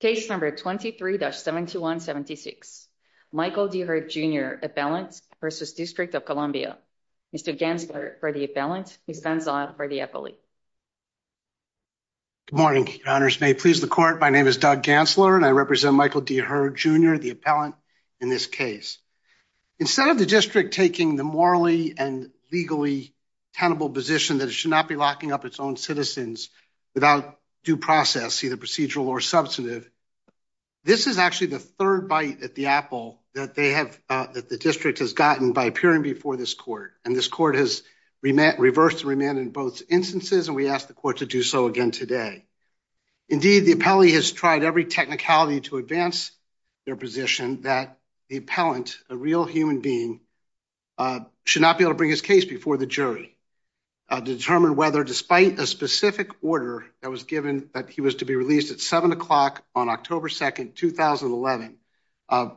Case number 23-7176, Michael D. Hurd, Jr. Appellant v. District of Columbia. Mr. Gantzler for the appellant, Ms. Van Zandt for the appellee. Good morning, Your Honors. May it please the Court, my name is Doug Gantzler, and I represent Michael D. Hurd, Jr., the appellant in this case. Instead of the district taking the morally and legally tenable position that it should not be locking up its own citizens without due process, either procedural or substantive, this is actually the third bite at the apple that the district has gotten by appearing before this Court. And this Court has reversed and remanded both instances, and we ask the Court to do so again today. Indeed, the appellee has tried every technicality to advance their position that the appellant, a real human being, should not be able to bring his case before the jury to determine whether, despite a specific order that was given to be released at 7 o'clock on October 2nd, 2011,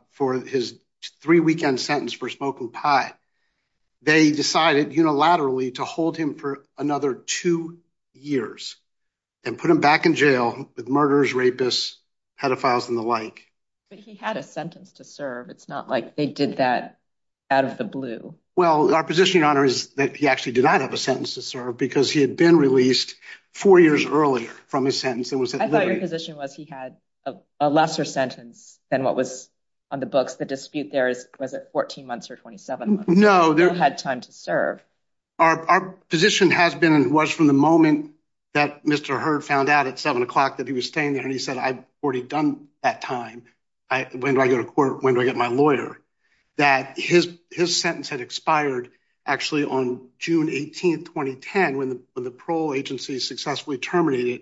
for his three-weekend sentence for smoking pot, they decided unilaterally to hold him for another two years and put him back in jail with murderers, rapists, pedophiles, and the like. But he had a sentence to serve. It's not like they did that out of the blue. Well, our position, Your Honor, is that he actually did not have a sentence to serve because he had been released four years earlier from his sentence and was at liberty. I thought your position was he had a lesser sentence than what was on the books. The dispute there is, was it 14 months or 27 months? No. He still had time to serve. Our position has been and was from the moment that Mr. Hurd found out at 7 o'clock that he was staying there and he said, I've already done that time, when do I go to court, when do I get my lawyer, that his sentence had expired actually on June 18th, 2010, when the parole agency successfully terminated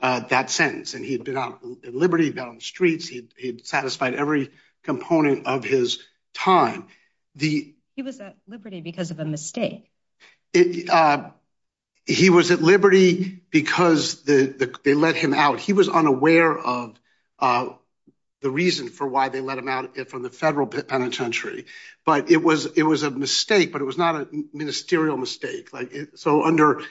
that sentence. And he'd been out at liberty, he'd been out on the streets, he'd satisfied every component of his time. He was at liberty because of a mistake. He was at liberty because they let him out. He was unaware of the reason for why they let him out from the federal penitentiary. But it was a mistake, but it was not a ministerial mistake. So under,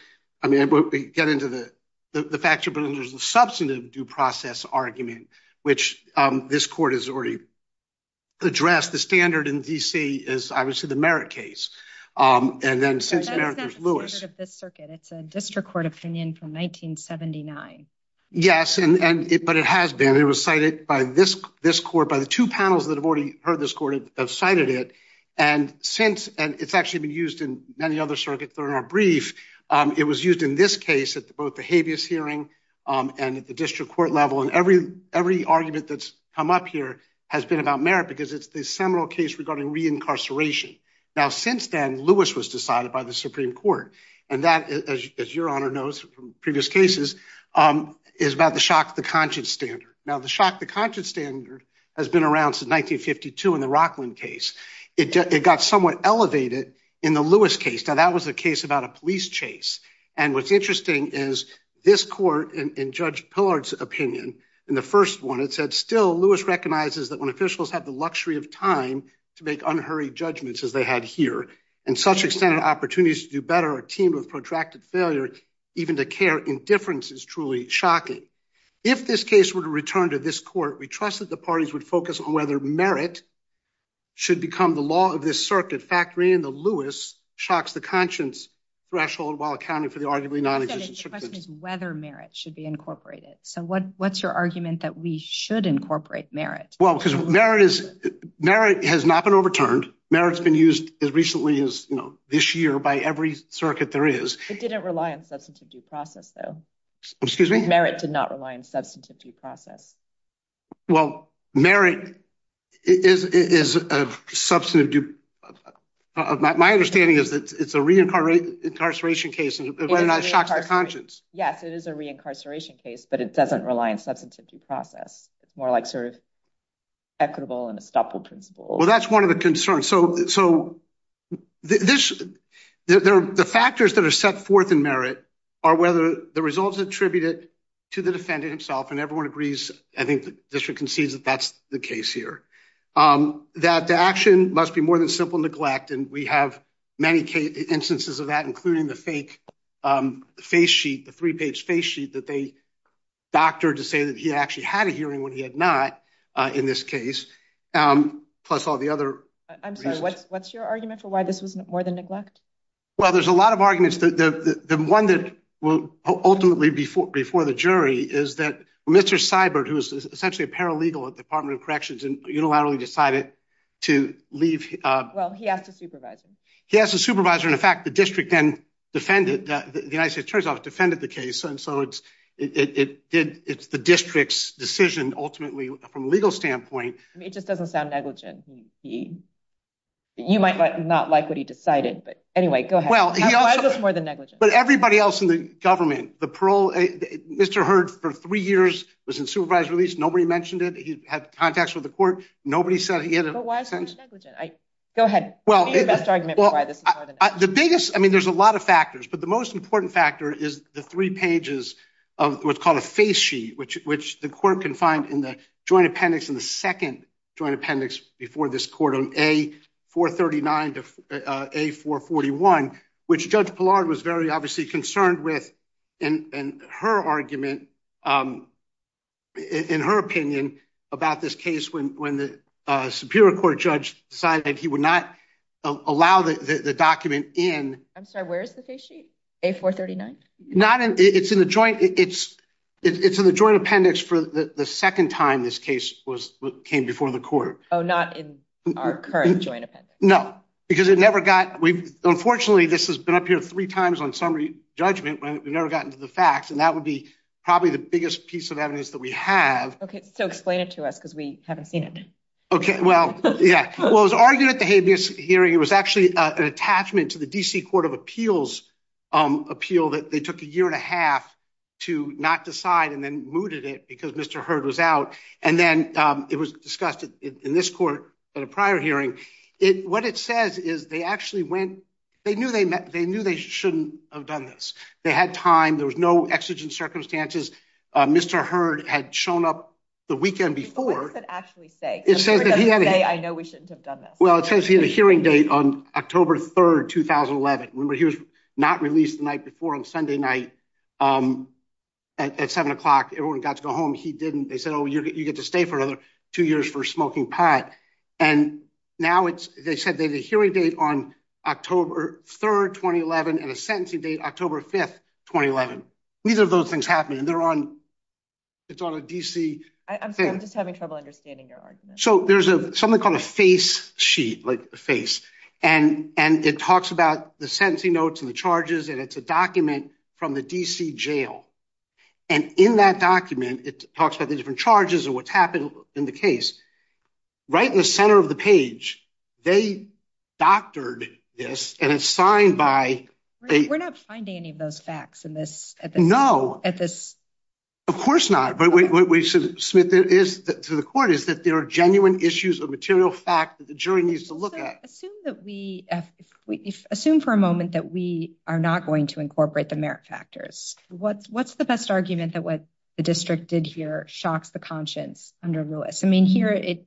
I mean, we get into the factor, but there's a substantive due process argument, which this court has already addressed. The standard in D.C. is, I would say, the Merritt case. And then since Merritt, there's Lewis. That's not the standard of this circuit, it's a district court opinion from 1979. Yes, but it has been, it was cited by this court, by the two panels that have already heard this court have cited it. And since, and it's actually been used in many other circuits, if they're in our brief, it was used in this case at both the habeas hearing and at the district court level. And every argument that's come up here has been about Merritt because it's the seminal case regarding reincarceration. Now, since then, Lewis was decided by the Supreme Court. And that, as your honor knows from previous cases, is about the shock to the conscience standard. Now, the shock to the conscience standard has been around since 1952 in the Rockland case. It got somewhat elevated in the Lewis case. Now, that was a case about a police chase. And what's interesting is this court, in Judge Pillard's opinion, in the first one, it said, still Lewis recognizes that when officials have the luxury of time to make unhurried judgments as they had here, and such extended opportunities to do better are teamed with protracted failure, even to care indifference is truly shocking. If this case were to return to this court, we trust that the parties would focus on whether Merritt should become the law of this circuit. In fact, reading the Lewis shocks the conscience threshold while accounting for the arguably non-existent circumstances. The question is whether Merritt should be incorporated. So what's your argument that we should incorporate Merritt? Well, because Merritt has not been overturned. Merritt's been used as recently as this year by every circuit there is. It didn't rely on substantive due process, though. Excuse me? Merritt did not rely on substantive due process. Well, Merritt is a substantive due process. My understanding is that it's a reincarceration case and whether or not it shocks the conscience. Yes, it is a reincarceration case, but it doesn't rely on substantive due process. It's more like sort of equitable and estoppel principle. Well, that's one of the concerns. So the factors that are set forth in Merritt are whether the results attribute it to the defendant himself and everyone agrees, I think the district concedes that that's the case here, that the action must be more than simple neglect. And we have many instances of that, including the fake face sheet, the three page face sheet that they doctored to say that he actually had a hearing when he had not in this case. Plus all the other. I'm sorry, what's what's your argument for why this was more than neglect? Well, there's a lot of arguments that the one that will ultimately before the jury is that Mr. Seibert, who is essentially a paralegal at the Department of Corrections and unilaterally decided to leave. Well, he asked a supervisor. He has a supervisor. In fact, the district then defended the United States Attorney's Office, defended the case. And so it's it did. It's the district's decision. Ultimately, from a legal standpoint, it just doesn't sound negligent. He you might not like what he decided. But anyway, go ahead. Well, it's more than negligent. But everybody else in the government, the parole, Mr. Heard for three years was in supervised release. Nobody mentioned it. He had contacts with the court. Nobody said he had a sense. I go ahead. Well, the best argument. Well, the biggest. I mean, there's a lot of factors, but the most important factor is the three pages of what's called a face sheet, which which the court can find in the joint appendix in the second joint appendix before this court on a 439 to a 441, which Judge Pillard was very obviously concerned with. And her argument in her opinion about this case, when when the Superior Court judge decided he would not allow the document in. I'm sorry, where is the face sheet? A439? Not in. It's in the joint. It's it's in the joint appendix for the second time. This case was came before the court. Oh, not in our current joint appendix. No, because it never got. We've unfortunately this has been up here three times on summary judgment when we've never gotten to the facts. And that would be probably the biggest piece of evidence that we have. OK, so explain it to us because we haven't seen it. OK, well, yeah, well, it was argued at the habeas hearing. It was actually an attachment to the D.C. Court of Appeals appeal that they took a year and a half to not decide and then mooted it because Mr. Heard was out and then it was discussed in this court at a prior hearing. It what it says is they actually went. They knew they met. They knew they shouldn't have done this. They had time. There was no exigent circumstances. Mr. Heard had shown up the weekend before. That actually say it says that he had to say, I know we shouldn't have done this. Well, it says he had a hearing date on October 3rd, 2011. He was not released the night before on Sunday night at seven o'clock. Everyone got to go home. He didn't. They said, oh, you get to stay for another two years for smoking pot. And now it's they said they had a hearing date on October 3rd, 2011, and a sentencing date, October 5th, 2011. Neither of those things happen and they're on. It's on a D.C. thing. I'm just having trouble understanding your argument. So there's something called a face sheet, like a face. And and it talks about the sentencing notes and the charges. And it's a document from the D.C. Jail. And in that document, it talks about the different charges and what's happened in the case right in the center of the page. They doctored this. And it's signed by. We're not finding any of those facts in this. No, at this. Of course not. But what we should submit to the court is that there are genuine issues of material fact that the jury needs to look at. Assume that we assume for a moment that we are not going to incorporate the merit factors. What's what's the best argument that what the district did here shocks the conscience under Lewis? I mean, here it.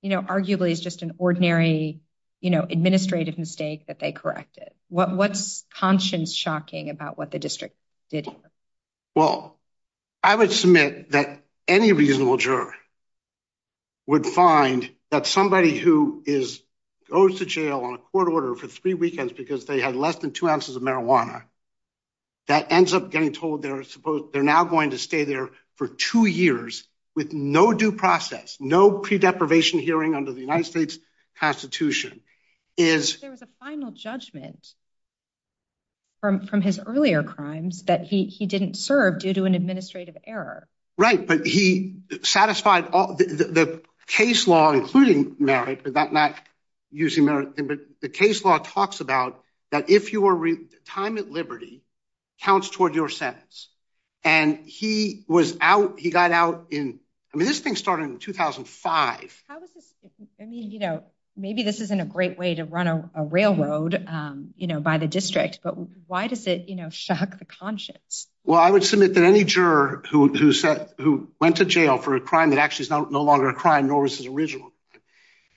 You know, arguably, it's just an ordinary, you know, administrative mistake that they corrected. What what's conscience shocking about what the district did? Well, I would submit that any reasonable juror. Would find that somebody who is goes to jail on a court order for three weekends because they had less than two ounces of marijuana. That ends up getting told they're supposed they're now going to stay there for two years with no due process, no pre deprivation hearing under the United States Constitution is there was a final judgment. From from his earlier crimes that he he didn't serve due to an administrative error. Right. But he satisfied the case law, including merit, but that not using merit, but the case law talks about that if you were time at liberty counts toward your sentence. And he was out. He got out in. I mean, this thing started in 2005. How was this? I mean, you know, maybe this isn't a great way to run a railroad, you know, by the district. But why does it, you know, shock the conscience? Well, I would submit that any juror who said who went to jail for a crime that actually is no longer a crime, nor was his original.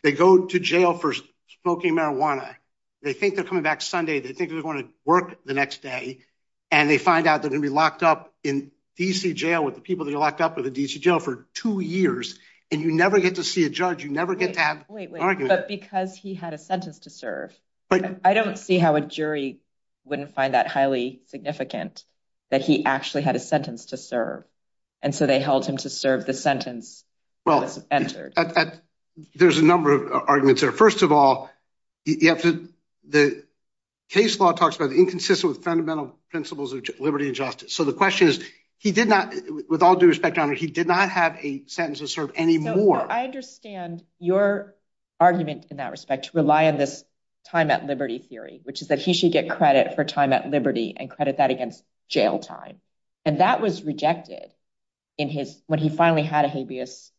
They go to jail for smoking marijuana. They think they're coming back Sunday. They think they're going to work the next day and they find out they're going to be locked up in D.C. jail with the people that are locked up in the D.C. jail for two years. And you never get to see a judge. You never get to have. Wait, wait, wait. But because he had a sentence to serve, but I don't see how a jury wouldn't find that highly significant that he actually had a sentence to serve. And so they held him to serve the sentence. Well, as there's a number of arguments there. First of all, you have to the case law talks about the inconsistent with fundamental principles of liberty and justice. So the question is, he did not with all due respect. I mean, he did not have a sentence to serve anymore. I understand your argument in that respect to rely on this time at liberty theory, which is that he should get credit for time at liberty and credit that against jail time. And that was rejected in his when he finally had a habeas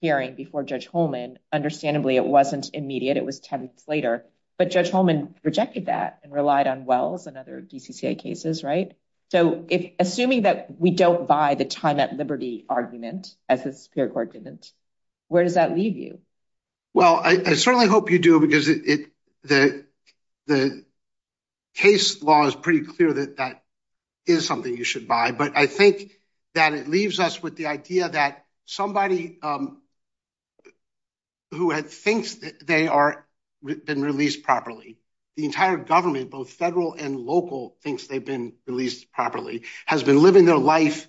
hearing before Judge Holman. Understandably, it wasn't immediate. It was ten weeks later. But Judge Holman rejected that and relied on Wells and other DCCA cases. Right. So if assuming that we don't buy the time at liberty argument as the Superior Court didn't, where does that leave you? Well, I certainly hope you do, because it the the case law is pretty clear that that is something you should buy. But I think that it leaves us with the idea that somebody who thinks that they are been released properly, the entire government, both federal and local, thinks they've been released properly, has been living their life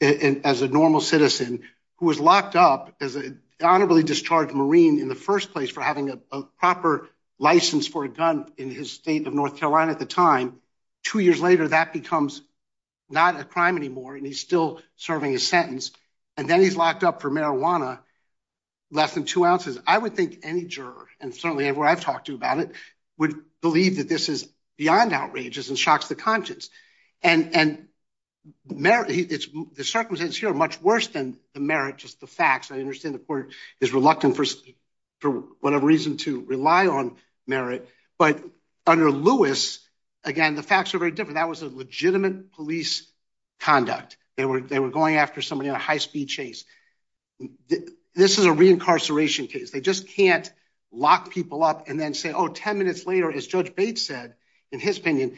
as a normal citizen who was locked up as an honorably discharged Marine in the first place for having a proper license for a gun in his state of North Carolina at the time. Two years later, that becomes not a crime anymore. And he's still serving a sentence. And then he's locked up for marijuana. Less than two ounces. I would think any juror and certainly where I've talked to about it would believe that this is beyond outrageous and shocks the conscience. And the circumstances here are much worse than the merit. Just the facts. I understand the court is reluctant for whatever reason to rely on merit. But under Lewis, again, the facts are very different. That was a legitimate police conduct. They were they were going after somebody on a high speed chase. This is a reincarceration case. They just can't lock people up and then say, oh, 10 minutes later, as Judge Bates said, in his opinion,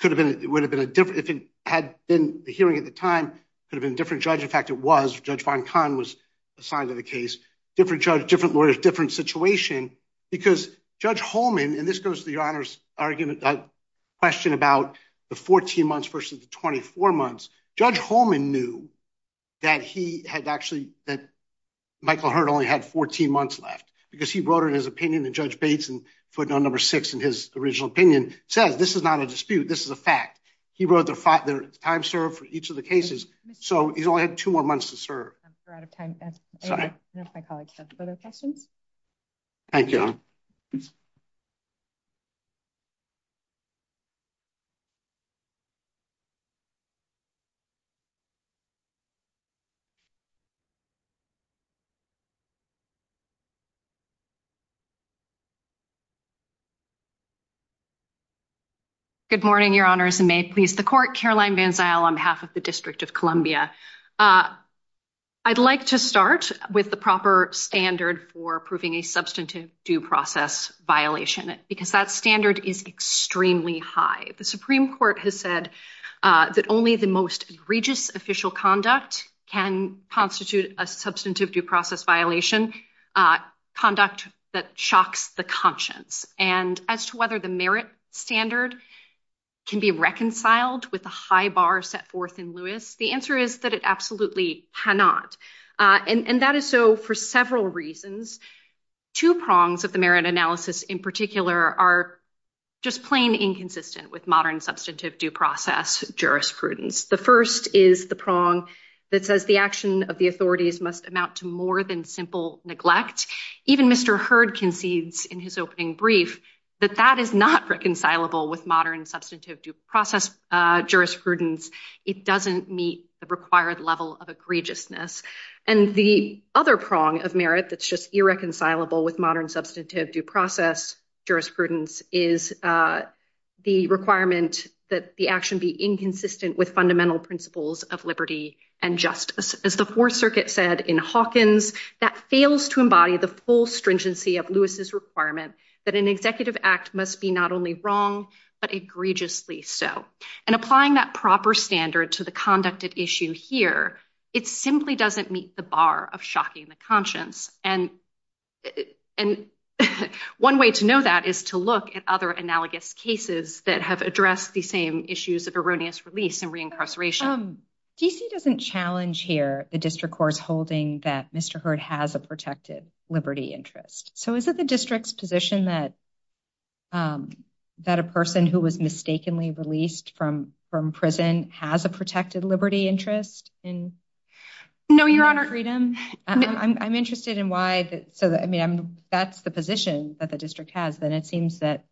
could have been it would have been a different if it had been the hearing at the time, could have been a different judge. In fact, it was Judge Von Kahn was assigned to the case. Different judge, different lawyers, different situation. Because Judge Holman, and this goes to your honor's argument, question about the 14 months versus the 24 months. Judge Holman knew that he had actually that Michael Hurd only had 14 months left because he wrote in his opinion that Judge Bates and footnote number six in his original opinion says this is not a dispute. This is a fact. He wrote the time served for each of the cases. So he's only had two more months to serve. I'm sorry. I know my colleagues have other questions. Thank you. Good morning, your honors, and may it please the court. Caroline Van Zyl, on behalf of the District of Columbia. I'd like to start with the proper standard for proving a substantive due process violation, because that standard is extremely high. The Supreme Court has said that only the most experienced egregious official conduct can constitute a substantive due process violation conduct that shocks the conscience. And as to whether the merit standard can be reconciled with the high bar set forth in Lewis, the answer is that it absolutely cannot. And that is so for several reasons. Two prongs of the merit analysis in particular are just plain inconsistent with modern substantive due process jurisprudence. The first is the prong that says the action of the authorities must amount to more than simple neglect. Even Mr. Hurd concedes in his opening brief that that is not reconcilable with modern substantive due process jurisprudence. It doesn't meet the required level of egregiousness. And the other prong of merit that's just irreconcilable with modern substantive due process jurisprudence is the requirement that the action be inconsistent with fundamental principles of liberty and justice. As the Fourth Circuit said in Hawkins, that fails to embody the full stringency of Lewis's requirement that an executive act must be not only wrong, but egregiously so. And applying that proper standard to the conducted issue here, it simply doesn't meet the bar of shocking the conscience. And and one way to know that is to look at other analogous cases that have addressed the same issues of erroneous release and reincarceration. DC doesn't challenge here the district court's holding that Mr. Hurd has a protected liberty interest. So is it the district's position that that a person who was mistakenly released from from prison has a protected liberty interest in? No, Your Honor. Freedom. I'm interested in why. So, I mean, that's the position that the district has. And it seems that.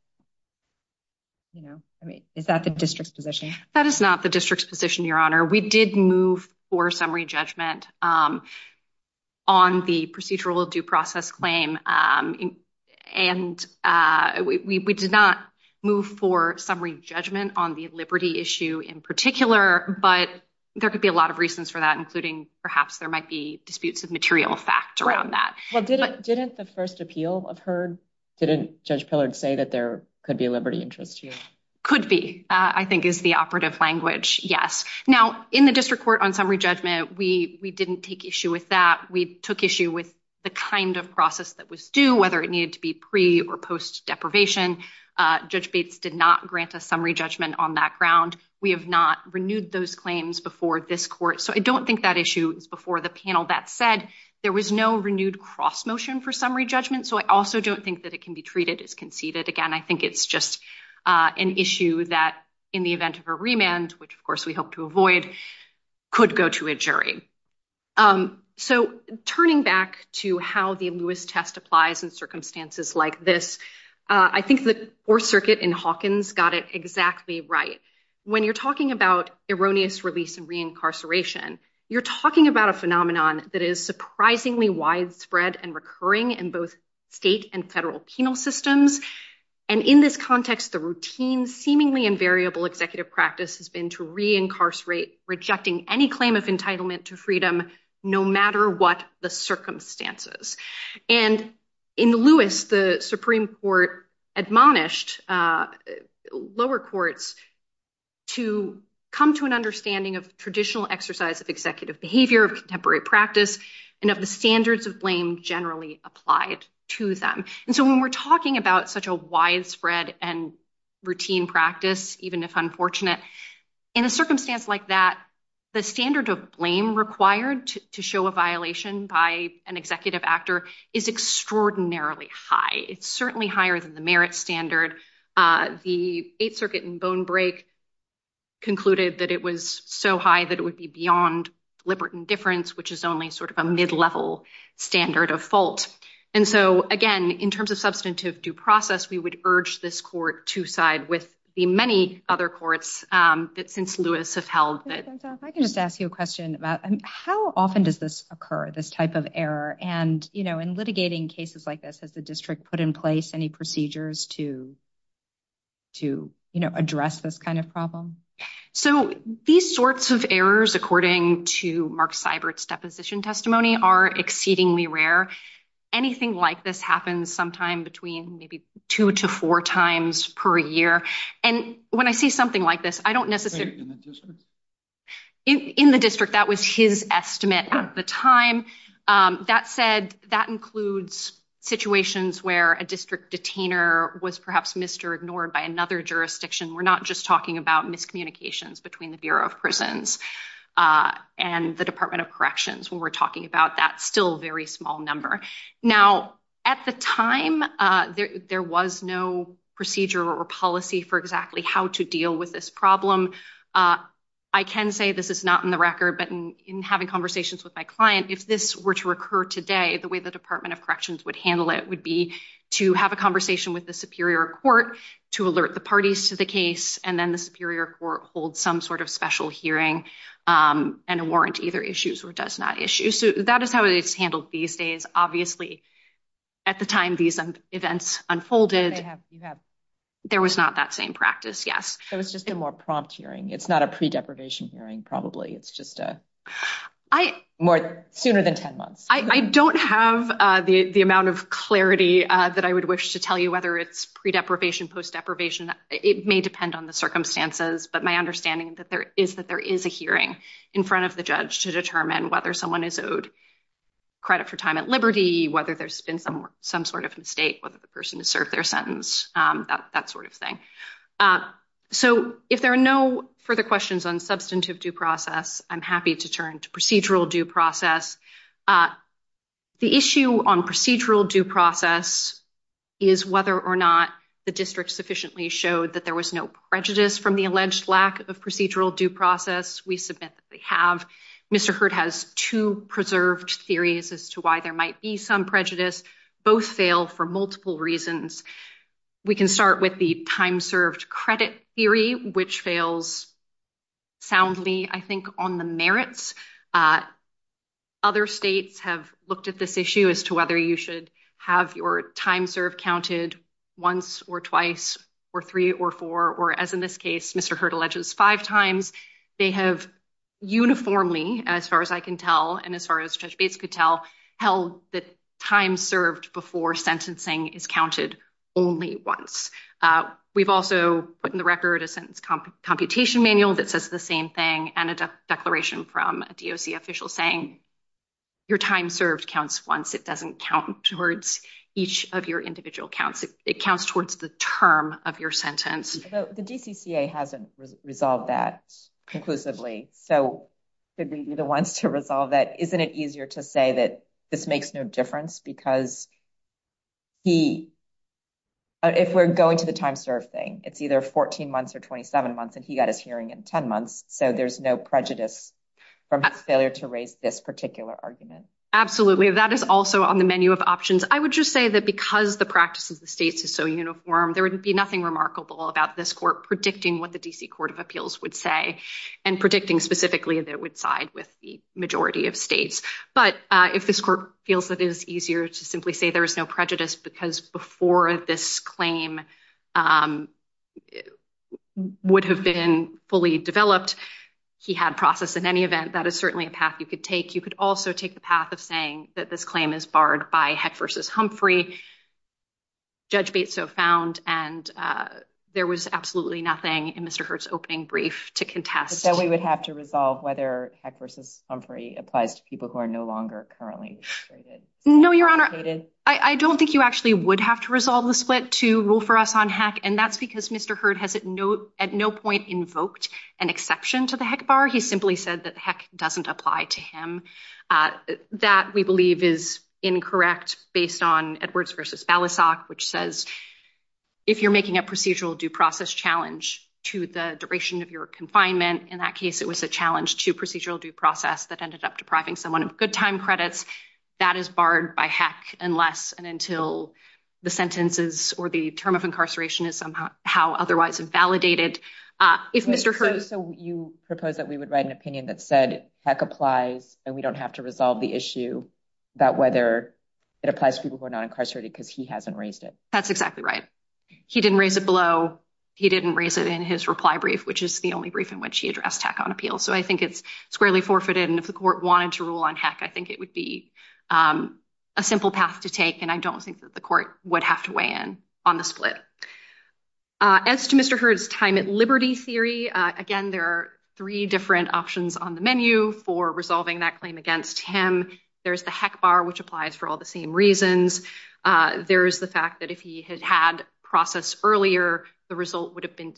You know, I mean, is that the district's position? That is not the district's position, Your Honor. We did move for summary judgment on the procedural due process claim, and we did not move for summary judgment on the liberty issue in particular. But there could be a lot of reasons for that, including perhaps there might be disputes of material fact around that. Well, didn't the first appeal of Hurd, didn't Judge Pillard say that there could be a liberty interest here? Could be, I think, is the operative language. Yes. Now, in the district court on summary judgment, we didn't take issue with that. We took issue with the kind of process that was due, whether it needed to be pre or post deprivation. Judge Bates did not grant a summary judgment on that ground. We have not renewed those claims before this court. So I don't think that issue is before the panel. That said, there was no renewed cross motion for summary judgment. So I also don't think that it can be treated as conceded. Again, I think it's just an issue that in the event of a remand, which, of course, we hope to avoid, could go to a jury. So turning back to how the Lewis test applies in circumstances like this, I think the Fourth Circuit in Hawkins got it exactly right. When you're talking about erroneous release and reincarceration, you're talking about a phenomenon that is surprisingly widespread and recurring in both state and federal penal systems. And in this context, the routine, seemingly invariable executive practice has been to reincarcerate, rejecting any claim of entitlement to freedom, no matter what the circumstances. And in Lewis, the Supreme Court admonished lower courts to come to an understanding of traditional exercise of executive behavior of contemporary practice and of the standards of blame generally applied to them. And so when we're talking about such a widespread and routine practice, even if unfortunate in a circumstance like that, the standard of blame required to show a violation by an executive actor is extraordinarily high. It's certainly higher than the merit standard. The Eighth Circuit in Bone Break concluded that it was so high that it would be beyond libertin difference, which is only sort of a mid-level standard of fault. And so, again, in terms of substantive due process, we would urge this court to side with the many other courts that since Lewis have held that. I can just ask you a question about how often does this occur, this type of error and, you know, in litigating cases like this, has the district put in place any procedures to. To, you know, address this kind of problem. So these sorts of errors, according to Mark Seibert's deposition testimony, are exceedingly rare. Anything like this happens sometime between maybe two to four times per year. And when I see something like this, I don't necessarily. In the district, that was his estimate at the time that said that includes situations where a district detainer was perhaps missed or ignored by another jurisdiction. We're not just talking about miscommunications between the Bureau of Prisons and the Department of Corrections when we're talking about that still very small number. Now, at the time, there was no procedure or policy for exactly how to deal with this problem. I can say this is not in the record, but in having conversations with my client, if this were to occur today, the way the Department of Corrections would handle it would be to have a conversation with the superior court to alert the parties to the case. And then the superior court holds some sort of special hearing and a warrant either issues or does not issue. So that is how it's handled these days. Obviously, at the time these events unfolded, there was not that same practice. Yes. So it's just a more prompt hearing. It's not a pre-deprivation hearing, probably. It's just a more sooner than 10 months. I don't have the amount of clarity that I would wish to tell you, whether it's pre-deprivation, post-deprivation. It may depend on the circumstances. But my understanding is that there is a hearing in front of the judge to determine whether someone is owed credit for time at liberty, whether there's been some sort of mistake, whether the person has served their sentence, that sort of thing. So if there are no further questions on substantive due process, I'm happy to turn to procedural due process. The issue on procedural due process is whether or not the district sufficiently showed that there was no prejudice from the alleged lack of procedural due process. We submit that they have. Mr. Hurd has two preserved theories as to why there might be some prejudice. Both fail for multiple reasons. We can start with the time served credit theory, which fails soundly, I think, on the merits. Other states have looked at this issue as to whether you should have your time served counted once or twice or three or four, or as in this case, Mr. Hurd alleges, five times. They have uniformly, as far as I can tell, and as far as Judge Bates could tell, held that time served before sentencing is counted only once. We've also put in the record a sentence computation manual that says the same thing and a declaration from the district. A DOC official saying your time served counts once. It doesn't count towards each of your individual counts. It counts towards the term of your sentence. The DCCA hasn't resolved that conclusively. So should we be the ones to resolve that? Isn't it easier to say that this makes no difference because. He. If we're going to the time served thing, it's either 14 months or 27 months, and he got his hearing in 10 months, so there's no prejudice from his failure to raise this particular argument. Absolutely. That is also on the menu of options. I would just say that because the practice of the states is so uniform, there would be nothing remarkable about this court predicting what the D.C. Court of Appeals would say and predicting specifically that it would side with the majority of states. But if this court feels that it is easier to simply say there is no prejudice because before this claim would have been fully developed, he had process in any event. That is certainly a path you could take. You could also take the path of saying that this claim is barred by Heck versus Humphrey. Judge Bates so found and there was absolutely nothing in Mr. Hurt's opening brief to contest that we would have to resolve whether Heck versus Humphrey applies to people who are no longer currently. No, Your Honor, I don't think you actually would have to resolve the split to rule for us on Heck. And that's because Mr. Hurt has at no at no point invoked an exception to the Heck bar. He simply said that Heck doesn't apply to him. That we believe is incorrect based on Edwards versus Balasag, which says if you're making a procedural due process challenge to the duration of your confinement, in that case, it was a challenge to procedural due process that ended up depriving someone of good time credits that is barred by Heck. Unless and until the sentences or the term of incarceration is somehow otherwise invalidated, if Mr. Hurt. So you propose that we would write an opinion that said Heck applies and we don't have to resolve the issue about whether it applies to people who are not incarcerated because he hasn't raised it. That's exactly right. He didn't raise it below. He didn't raise it in his reply brief, which is the only brief in which he addressed Heck on appeal. So I think it's squarely forfeited. And if the court wanted to rule on Heck, I think it would be a simple path to take. And I don't think that the court would have to weigh in on the split. As to Mr. Hurt's time at liberty theory, again, there are three different options on the menu for resolving that claim against him. There's the Heck bar, which applies for all the same reasons. There is the fact that if he had had process earlier, the result would have been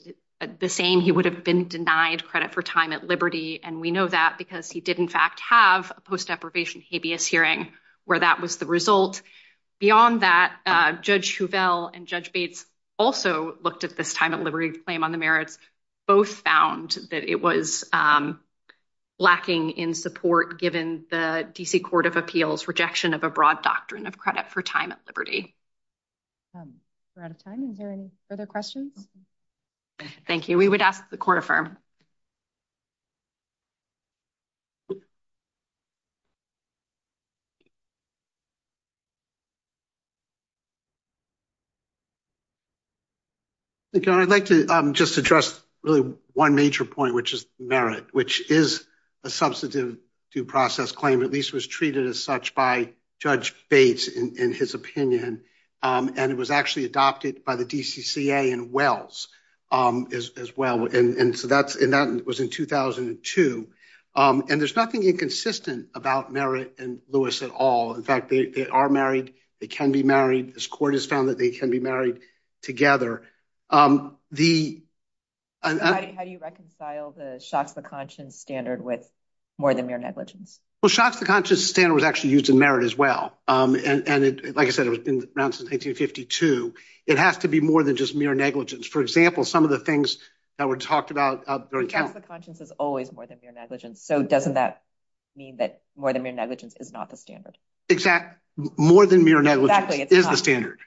the same. He would have been denied credit for time at liberty. And we know that because he did, in fact, have a post deprivation habeas hearing where that was the result. Beyond that, Judge Hovell and Judge Bates also looked at this time at liberty claim on the merits. Both found that it was lacking in support, given the D.C. Court of Appeals rejection of a broad doctrine of credit for time at liberty. We're out of time. Is there any further questions? Thank you. We would ask the court affirm. Thank you. I'd like to just address really one major point, which is merit, which is a substantive due process claim, at least was treated as such by Judge Bates in his opinion, and it was actually adopted by the DCCA and Wells as well. And so that's and that was in 2002. And there's nothing inconsistent about merit and Lewis at all. In fact, they are married. They can be married. This court has found that they can be married together. The. And how do you reconcile the shocks, the conscience standard with more than mere negligence? Well, shocks, the conscious standard was actually used in merit as well. And like I said, it's been around since 1952. It has to be more than just mere negligence. For example, some of the things that were talked about during the conscience is always more than mere negligence. So doesn't that mean that more than mere negligence is not the standard? Exactly. More than mere negligence is the standard.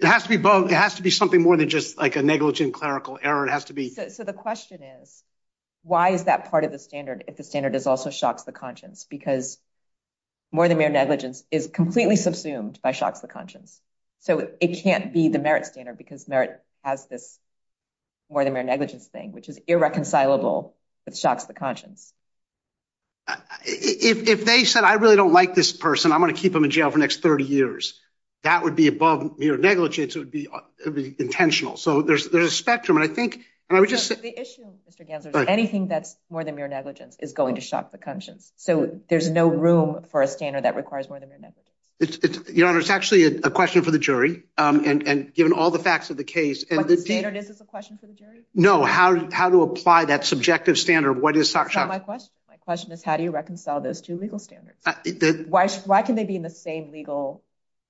It has to be both. It has to be something more than just like a negligent clerical error. It has to be. So the question is, why is that part of the standard? If the standard is also shocks, the conscience, because. More than mere negligence is completely subsumed by shocks, the conscience. So it can't be the merit standard because merit has this. More than mere negligence thing, which is irreconcilable with shocks, the conscience. If they said, I really don't like this person, I'm going to keep him in jail for next 30 years, that would be above mere negligence, it would be intentional. So there's there's a spectrum. And I think and I would just say the issue, Mr. Ganser, anything that's more than mere negligence is going to shock the conscience. So there's no room for a standard that requires more than mere negligence. Your Honor, it's actually a question for the jury. And given all the facts of the case and the standard, is this a question for the jury? No. How how to apply that subjective standard? What is my question? My question is, how do you reconcile those two legal standards? Why? Why can they be in the same legal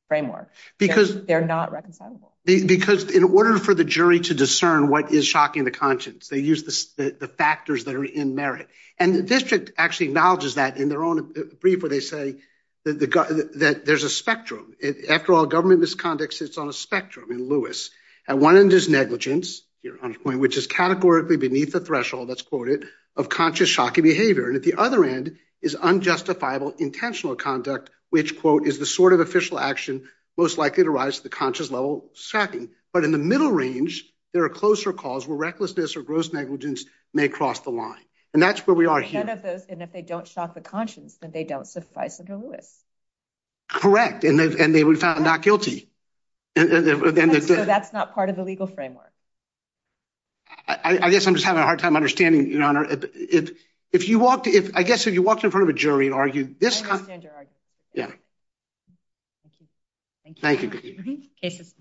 framework? Because they're not reconcilable. Because in order for the jury to discern what is shocking the conscience, they use the factors that are in merit. And the district actually acknowledges that in their own brief, where they say that there's a spectrum. After all, government misconduct sits on a spectrum in Lewis. At one end is negligence, your point, which is categorically beneath the threshold that's quoted of conscious shocking behavior. And at the other end is unjustifiable intentional conduct, which, quote, is the sort of official action most likely to rise to the conscious level second. But in the middle range, there are closer calls where recklessness or gross negligence may cross the line. And that's where we are here of those. And if they don't shock the conscience, then they don't suffice under Lewis. Correct. And they were found not guilty. And so that's not part of the legal framework. I guess I'm just having a hard time understanding, Your Honor. If if you walked if I guess if you walked in front of a jury and argued this. Yeah. Thank you. Thank you. Cases.